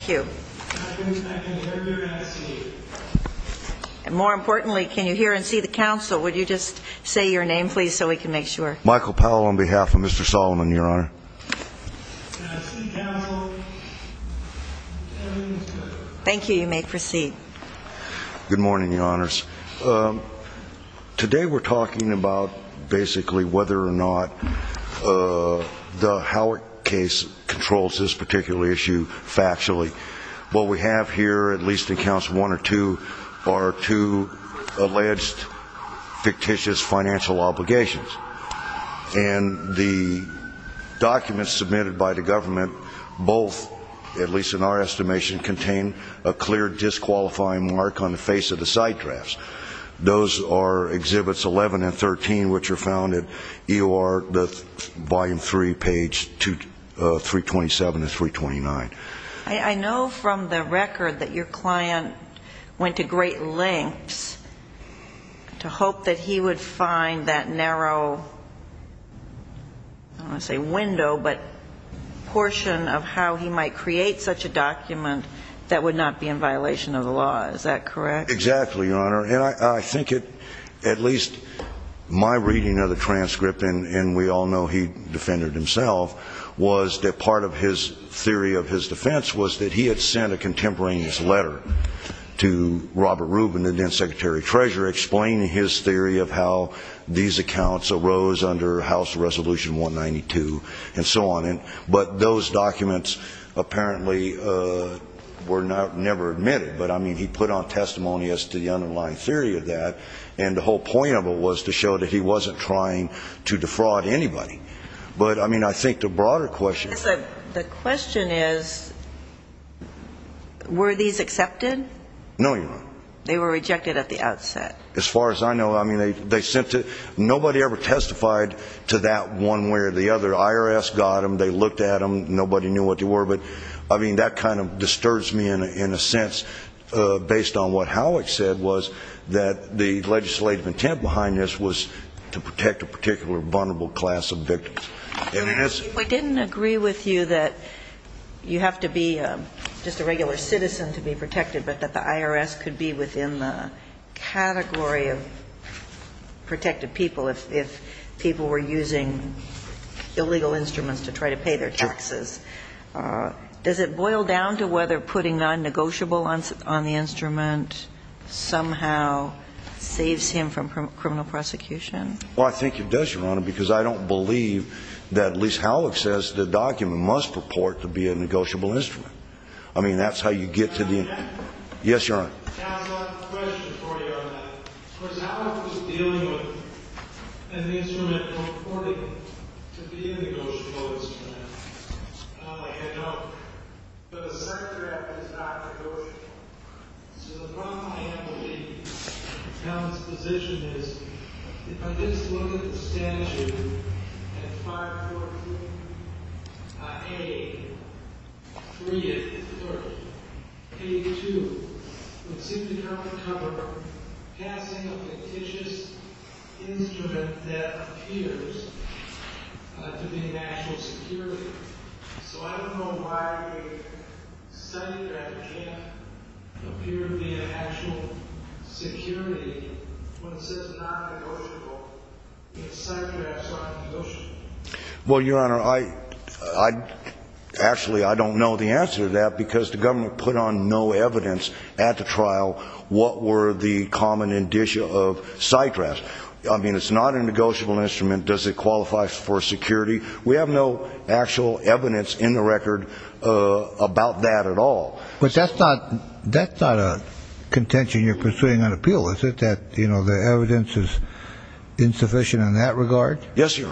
Q. I can hear you and see you. And more importantly, can you hear and see the counsel? Would you just say your name, please, so we can make sure. Michael Powell on behalf of Mr. Salman, Your Honor. Can I see counsel? Thank you. You may proceed. Good morning, Your Honors. Today we're talking about basically whether or not the Howard case controls this particular issue factually. What we have here, at least in Council 1 or 2, are two alleged fictitious financial obligations. And the documents submitted by the government both, at least in our estimation, contain a clear disqualifying mark on the face of the side drafts. Those are Exhibits 11 and 13, which are found at EOR Volume 3, Pages 327 to 329. I know from the record that your client went to great lengths to hope that he would find that narrow, I don't want to say window, but portion of how he might create such a document that would not be in violation of the law. Is that correct? Exactly, Your Honor. And I think at least my reading of the transcript, and we all know he defended himself, was that part of his theory of his defense was that he had sent a contemporaneous letter to Robert Rubin and then Secretary Treasurer explaining his theory of how these accounts arose under House Resolution 192 and so on. But those documents apparently were never admitted. But, I mean, he put on testimony as to the underlying theory of that. And the whole point of it was to show that he wasn't trying to defraud anybody. But, I mean, I think the broader question I guess the question is, were these accepted? No, Your Honor. They were rejected at the outset. As far as I know, I mean, they sent to, nobody ever testified to that one way or the other. The IRS got them, they looked at them, nobody knew what they were. But, I mean, that kind of disturbs me in a sense based on what Howick said was that the legislative intent behind this was to protect a particular vulnerable class of victims. Your Honor, I didn't agree with you that you have to be just a regular citizen to be protected, but that the IRS could be within the category of protected people if people were using illegal instruments to try to pay their taxes. Does it boil down to whether putting non-negotiable on the instrument somehow saves him from criminal prosecution? Well, I think it does, Your Honor, because I don't believe that, at least Howick says, the document must purport to be a negotiable instrument. I mean, that's how you get to the end. Yes, Your Honor. Counsel, I have a question for you on that. Of course, Howick was dealing with an instrument purporting to be a negotiable instrument. I don't like it, I don't. But the Secretary acted as Dr. Gorsuch. So the problem I have with Howick's position is, if I just look at the statute at 514A330, page 2, it would seem to cover passing a fictitious instrument that appears to be an actual security. So I don't know why we studied that it can't appear to be an actual security when it says non-negotiable, if SITRAS is not a negotiable instrument. Well, Your Honor, I actually don't know the answer to that because the government put on no evidence at the trial what were the common indicia of SITRAS. I mean, it's not a negotiable instrument. Does it qualify for security? We have no actual evidence in the That's not a contention you're pursuing on appeal, is it? That the evidence is insufficient in that regard? Yes, Your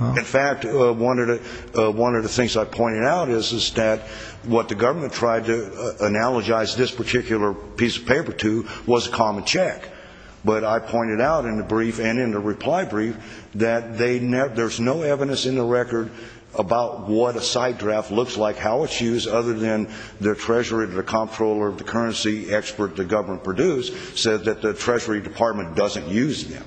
Honor. In fact, one of the things I pointed out is that what the government tried to analogize this particular piece of paper to was a common check. But I pointed out in the brief and in the reply brief that there's no evidence in the record about what a side draft looks like, how it's used, other than the treasurer, the comptroller of the currency, expert the government produced, said that the Treasury Department doesn't use them.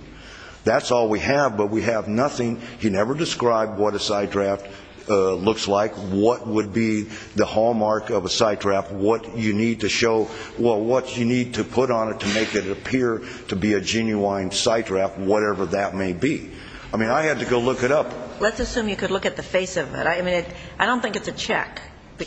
That's all we have, but we have nothing. He never described what a side draft looks like, what would be the hallmark of a side draft, what you need to show, well, what you need to put on it to make it appear to be a genuine side draft, whatever that may be. I mean, I had to go look it up. Let's assume you could look at the face of it. I think that's probably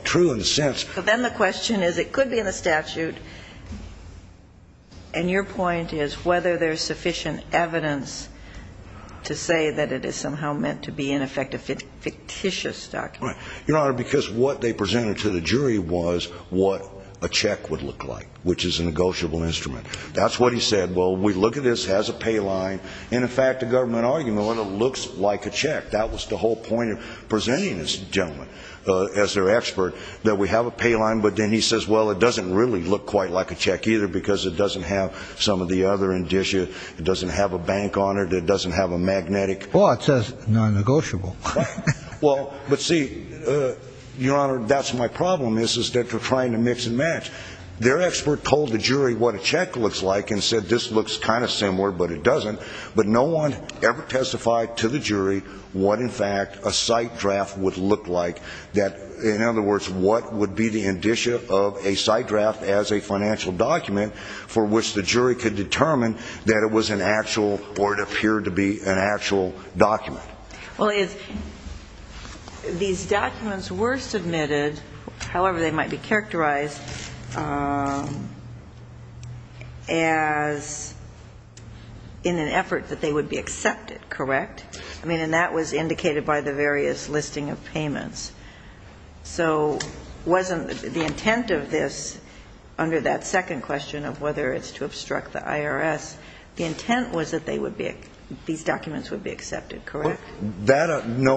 true in a sense. But then the question is, it could be in a statute, and your point is whether there's sufficient evidence to say that it is somehow meant to be, in effect, a fictitious document. Right. Your Honor, because what they presented to the jury was what a check would look like. And I don't think it's a fictitious check. I think it's a non-negotiable check. So what's your argument about what a non-negotiable check looks like? Which is a negotiable instrument. That's what he said, well, we look at this, has a pay line, and in fact, the government argument, well, it looks like a check. That was the whole point of presenting this gentleman as their expert, that we have a pay line, but then he says, well, it doesn't really look quite like a check either because it doesn't have some of the other indicia, it doesn't have a bank on it, it doesn't have a magnetic… Well, it says non-negotiable. Well, but see, Your Honor, that's my problem is that they're trying to mix and match. Their expert told the jury what a check looks like and said this looks kind of similar, but it doesn't. But no one ever testified to the jury what, in fact, a site draft would look like. In other words, what would be the indicia of a site draft as a financial document for which the jury could determine that it was an actual, or it appeared to be an actual document. Well, these documents were submitted, however they might be characterized, as in an effort that they would be accepted, correct? I mean, and that was indicated by the various listing of payments. So wasn't the intent of this under that second question of whether it's to obstruct the IRS, the intent was that they would be – these – no,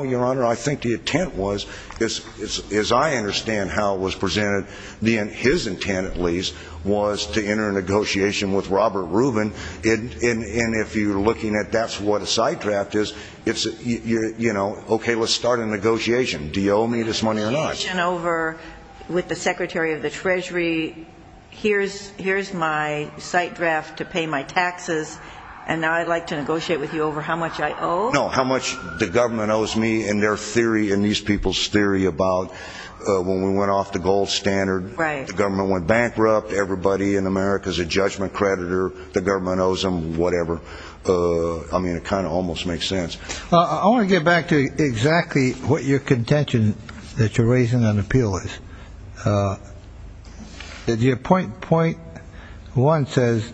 Your Honor, I think the intent was, as I understand how it was presented, his intent, at least, was to enter a negotiation with Robert Rubin, and if you're looking at that's what a site draft is, it's, you know, okay, let's start a negotiation. Do you owe me this money or not? Negotiation over with the Secretary of the Treasury, here's my site draft to pay my taxes, and now I'd like to negotiate with you over how much I owe? No, how much the government owes me, and their theory, and these people's theory about when we went off the gold standard, the government went bankrupt, everybody in America's a judgment creditor, the government owes them whatever. I mean, it kind of almost makes sense. I want to get back to exactly what your contention that you're raising on appeal is. Your point one says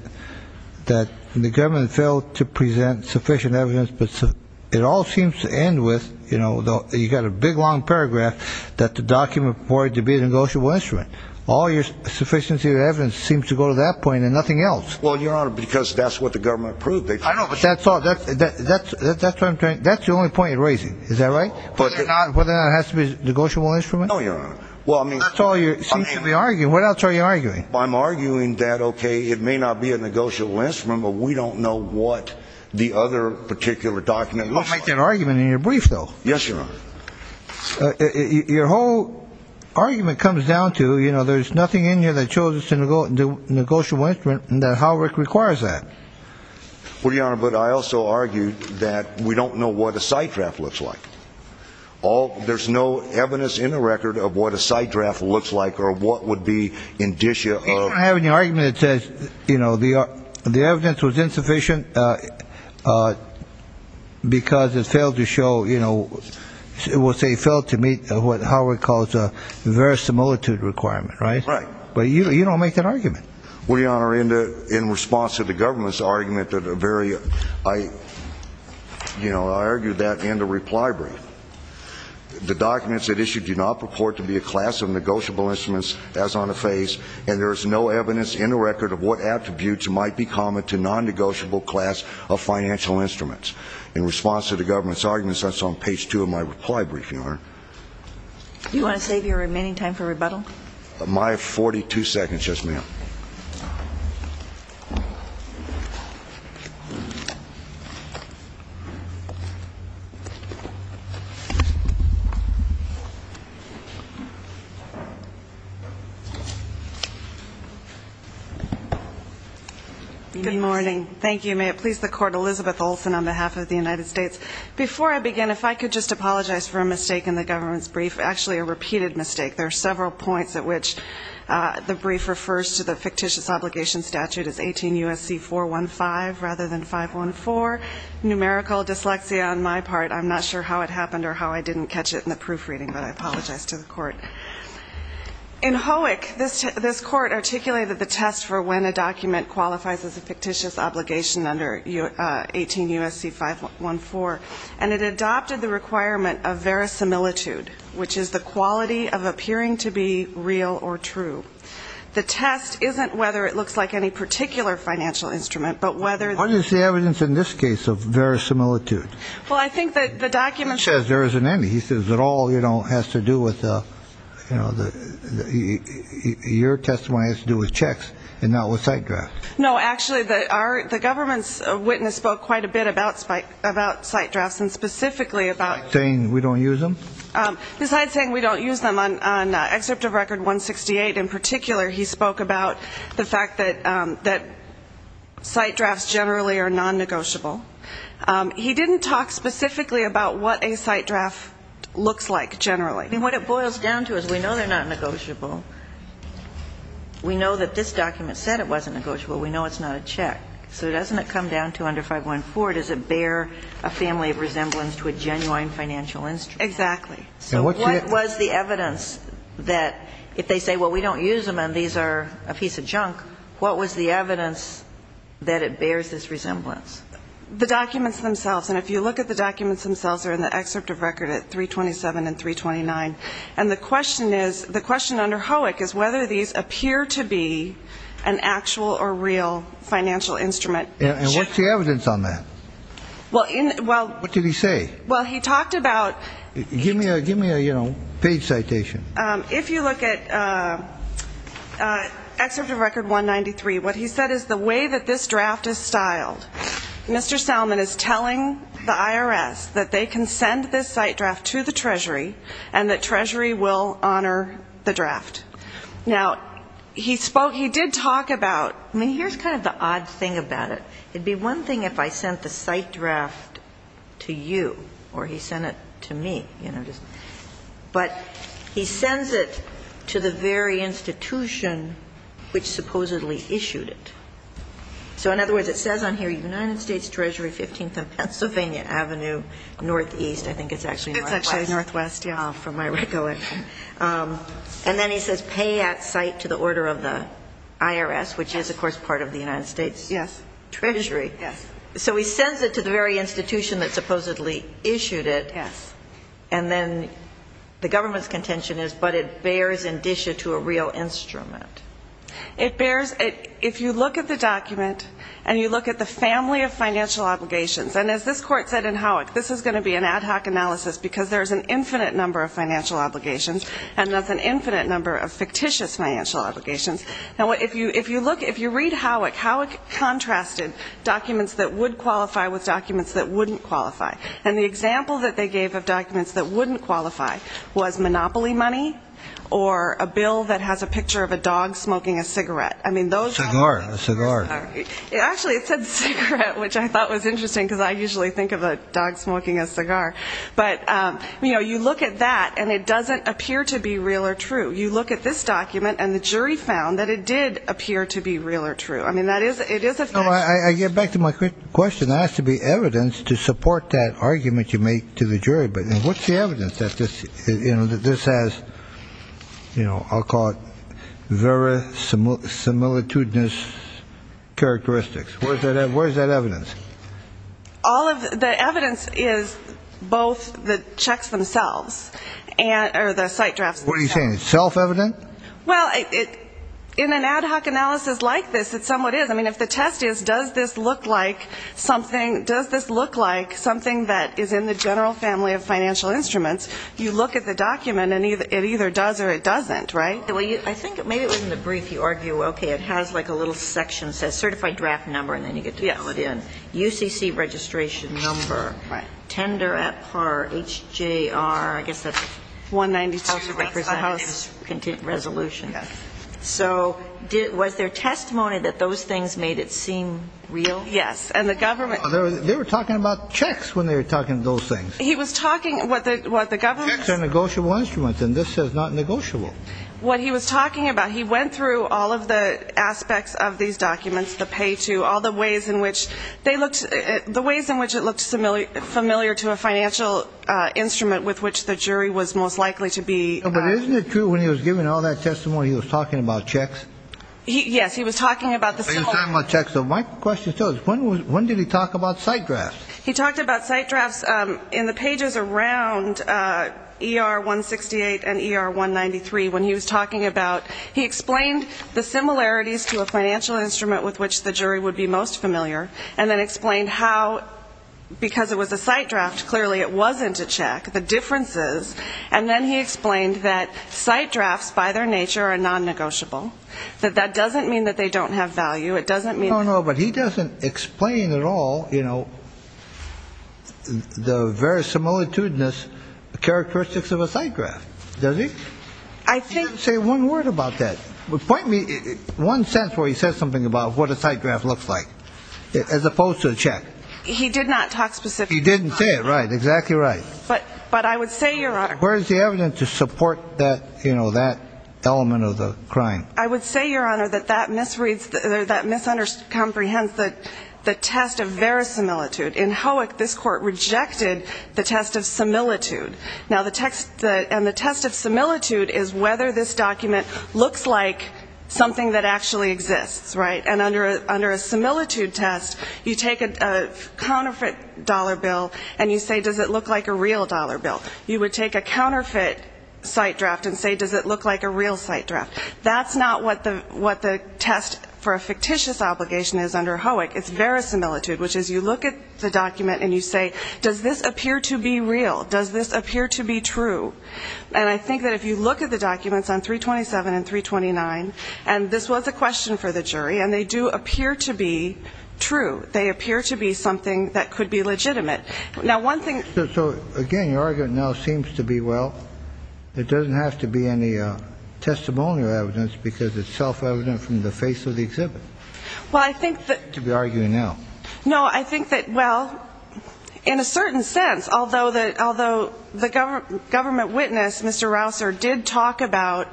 that the government failed to present sufficient evidence, but it all seems to end with, you know, you've got a big long paragraph that the document reported to be a negotiable instrument. All your sufficiency of evidence seems to go to that point and nothing else. Well, Your Honor, because that's what the government proved. I know, but that's all – that's the only point you're raising, is that right? Whether or not it has to be a negotiable instrument? No, Your Honor. Well, I mean – That's all you seem to be arguing. What else are you arguing? I'm arguing that, okay, it may not be a negotiable instrument, but we don't know what the other particular document looks like. You make that argument in your brief, though. Yes, Your Honor. Your whole argument comes down to, you know, there's nothing in here that shows it's a negotiable instrument and that Howard requires that. Well, Your Honor, but I also argued that we don't know what a site draft looks like. All – there's no evidence in the record of what a site draft looks like or what would be indicia of – You don't have any argument that says, you know, the evidence was insufficient because it failed to show, you know – well, say failed to meet what Howard calls a verisimilitude requirement, right? Right. But you don't make that argument. Well, Your Honor, in response to the government's argument that a very – I, you know, I argued that in the reply brief. The documents it issued do not purport to be a class of negotiable instruments, as on the face, and there is no evidence in the record of what attributes might be common to non-negotiable class of financial instruments. In response to the government's arguments, that's on page two of my reply brief, Your Honor. Do you want to save your remaining time for rebuttal? My 42 seconds, yes, ma'am. Good morning. Thank you. May it please the Court, Elizabeth Olsen on behalf of the United States. Before I begin, if I could just apologize for a mistake in the government's brief, actually a repeated mistake. There are several points at which the brief refers to the fictitious obligation statute as 18 U.S.C. 415 rather than 514. Numerical dyslexia on my part. I'm not sure how it happened or how I didn't catch it in the proofreading, but I apologize to the Court. In Howick, this Court articulated the test for when a document qualifies as a fictitious obligation under 18 U.S.C. 514, and it adopted the requirement of verisimilitude, which is the quality of appearing to be real or true. The test isn't whether it looks like any particular financial instrument, but whether Why do you say evidence in this case of verisimilitude? Well, I think that the document He says there isn't any. He says it all, you know, has to do with, you know, your testimony has to do with checks and not with site drafts. No, actually, the government's witness spoke quite a bit about site drafts and specifically about Saying we don't use them? Besides saying we don't use them, on Excerpt of Record 168 in particular, he spoke about the fact that site drafts generally are nonnegotiable. He didn't talk specifically about what a site draft looks like generally. I mean, what it boils down to is we know they're not negotiable. We know that this document said it wasn't negotiable. We know it's not a check. So doesn't it come down to under 514, does it bear a family resemblance to a genuine financial instrument? Exactly. So what was the evidence that if they say, well, we don't use them and these are a piece of junk, what was the evidence that it bears this resemblance? The documents themselves. And if you look at the documents themselves, they're in the Excerpt of Record at 327 and 329. And the question is, the question under Hoek is whether these appear to be an actual or real financial instrument. And what's the evidence on that? Well, in, well What did he say? Well, he talked about Give me a, give me a, you know, page citation. If you look at Excerpt of Record 193, what he said is the way that this draft is styled, Mr. Salmon is telling the IRS that they can send this site draft to the Treasury and that Treasury will honor the draft. Now, he spoke, he did talk about, I mean, here's kind of the odd thing about it. It'd be one thing if I sent the site draft to you or he sent it to me, you know, but he sends it to the very institution which supposedly issued it. So, in other words, it says on here, United States Treasury, 15th and Pennsylvania Avenue, northeast. I think it's actually northwest. It's actually northwest, yeah, from my recollection. And then he says pay at site to the order of the IRS, which is, of course, part of the United States Treasury. Yes. So he sends it to the very institution that supposedly issued it. Yes. And then the government's contention is, but it bears indicia to a real instrument. It bears, if you look at the document and you look at the family of financial obligations, and as this court said in Howick, this is going to be an ad hoc analysis because there's an infinite number of financial obligations and there's an infinite number of fictitious financial obligations. Now, if you look, if you read Howick, Howick contrasted documents that would qualify with documents that wouldn't qualify. And the example that they gave of documents that wouldn't qualify was monopoly money or a bill that has a picture of a dog smoking a cigarette. I mean, those documents. Cigar. Actually, it said cigarette, which I thought was interesting because I usually think of a dog smoking a cigar. But, you know, you look at that and it doesn't appear to be real or true. You look at this document and the jury found that it did appear to be real or true. I mean, it is a fact. I get back to my question. There has to be evidence to support that argument you make to the jury. But what's the evidence that this has, you know, I'll call it verisimilitudinous characteristics. Where's that evidence? All of the evidence is both the checks themselves or the site drafts themselves. What are you saying? It's self-evident? Well, in an ad hoc analysis like this, it somewhat is. I mean, if the test is does this look like something that is in the general family of financial instruments, you look at the document and it either does or it doesn't, right? Well, I think maybe it was in the brief. You argue, okay, it has like a little section that says certified draft number and then you get to fill it in. UCC registration number. Tender at par, HJR, I guess that's 192. House resolution. Yes. So was there testimony that those things made it seem real? Yes. And the government. They were talking about checks when they were talking to those things. He was talking what the government. Checks are negotiable instruments and this says not negotiable. What he was talking about, he went through all of the aspects of these documents, the pay-to, all the ways in which they looked, the ways in which it looked familiar to a financial instrument with which the jury was most likely to be. But isn't it true when he was giving all that testimony he was talking about checks? Yes, he was talking about the similar. He was talking about checks. So my question still is when did he talk about site drafts? He talked about site drafts in the pages around ER-168 and ER-193 when he was talking about. He explained the similarities to a financial instrument with which the jury would be most familiar and then explained how because it was a site draft, clearly it wasn't a check, the differences, and then he explained that site drafts by their nature are non-negotiable, that that doesn't mean that they don't have value. It doesn't mean. No, no, but he doesn't explain at all the very similitudinous characteristics of a site draft, does he? I think. I would say one word about that. Point me one sense where he says something about what a site draft looks like as opposed to a check. He did not talk specifically. He didn't say it. Right, exactly right. But I would say, Your Honor. Where is the evidence to support that element of the crime? I would say, Your Honor, that that misreads or that misunderstands the test of verisimilitude. In Howick, this court rejected the test of similitude. And the test of similitude is whether this document looks like something that actually exists, right? And under a similitude test, you take a counterfeit dollar bill and you say, does it look like a real dollar bill? You would take a counterfeit site draft and say, does it look like a real site draft? That's not what the test for a fictitious obligation is under Howick. It's verisimilitude, which is you look at the document and you say, does this appear to be real? Does this appear to be true? And I think that if you look at the documents on 327 and 329, and this was a question for the jury, and they do appear to be true. They appear to be something that could be legitimate. Now, one thing. So, again, your argument now seems to be, well, it doesn't have to be any testimonial evidence because it's self-evident from the face of the exhibit to be arguing now. No, I think that, well, in a certain sense, although the government witness, Mr. Rausser, did talk about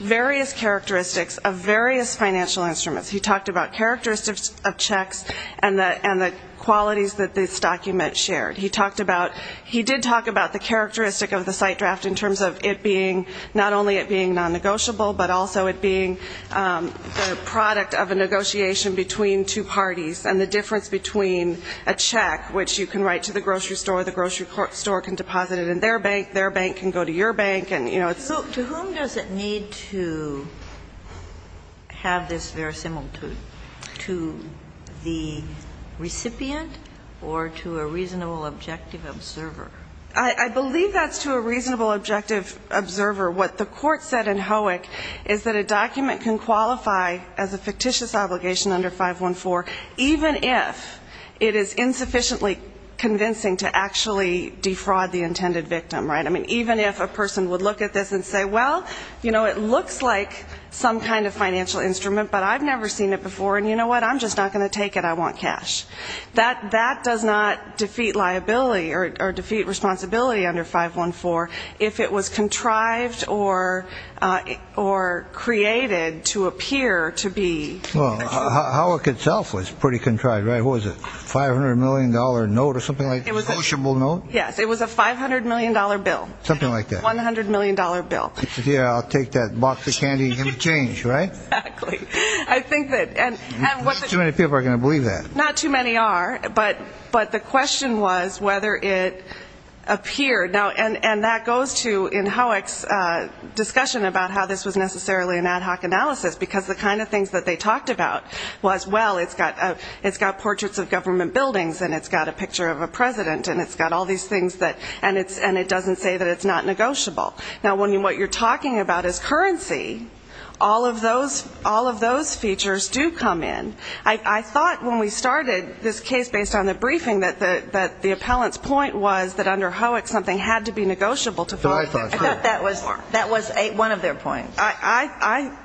various characteristics of various financial instruments. He talked about characteristics of checks and the qualities that this document shared. He did talk about the characteristic of the site draft in terms of it being not only it being non-negotiable, but also it being the product of a negotiation between two parties and the difference between a check, which you can write to the grocery store, the grocery store can deposit it in their bank, their bank can go to your bank, and, you know. So to whom does it need to have this verisimilitude? To the recipient or to a reasonable objective observer? I believe that's to a reasonable objective observer. What the court said in Hoek is that a document can qualify as a fictitious obligation under 514, even if it is insufficiently convincing to actually defraud the intended victim, right? I mean, even if a person would look at this and say, well, you know, it looks like some kind of financial instrument, but I've never seen it before, and you know what, I'm just not going to take it, I want cash. That does not defeat liability or defeat responsibility under 514. If it was contrived or created to appear to be. Well, Hoek itself was pretty contrived, right? What was it, a $500 million note or something like that? Yes, it was a $500 million bill. Something like that. $100 million bill. I'll take that box of candy and change, right? Exactly. Too many people are going to believe that. Not too many are, but the question was whether it appeared. And that goes to, in Hoek's discussion about how this was necessarily an ad hoc analysis, because the kind of things that they talked about was, well, it's got portraits of government buildings, and it's got a picture of a president, and it's got all these things, and it doesn't say that it's not negotiable. Now, when what you're talking about is currency, all of those features do come in. I thought when we started this case based on the briefing that the appellant's point was that under Hoek something had to be negotiable. I thought that was one of their points. Yeah,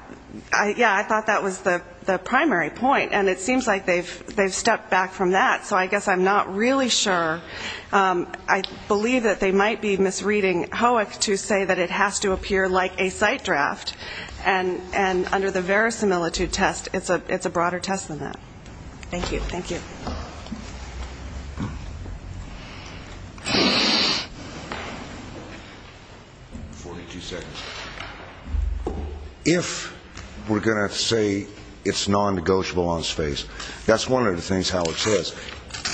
I thought that was the primary point, and it seems like they've stepped back from that. So I guess I'm not really sure. I believe that they might be misreading Hoek to say that it has to appear like a site draft, and under the verisimilitude test, it's a broader test than that. Thank you. Forty-two seconds. If we're going to say it's non-negotiable on its face, that's one of the things Howard says,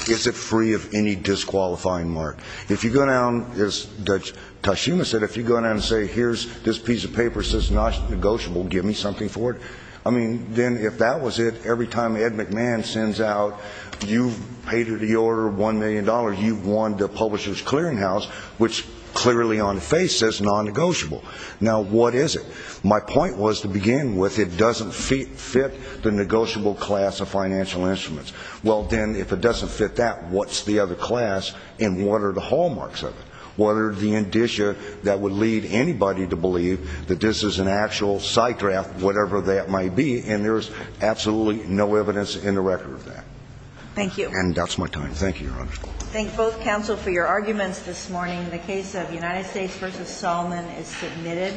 is it free of any disqualifying mark? If you go down, as Judge Toshima said, if you go down and say, here's this piece of paper that says it's not negotiable, give me something for it, I mean, then if that was it, every time Ed McMahon sends out, you've paid the order of $1 million, you've won the publisher's clearinghouse, which clearly on the face says non-negotiable. Now, what is it? My point was to begin with, it doesn't fit the negotiable class of financial instruments. Well, then, if it doesn't fit that, what's the other class, and what are the hallmarks of it? What are the indicia that would lead anybody to believe that this is an actual site draft, whatever that might be, and there's absolutely no evidence in the record of that? Thank you. And that's my time. Thank you, Your Honor. Thank both counsel for your arguments this morning. The case of United States v. Solomon is submitted.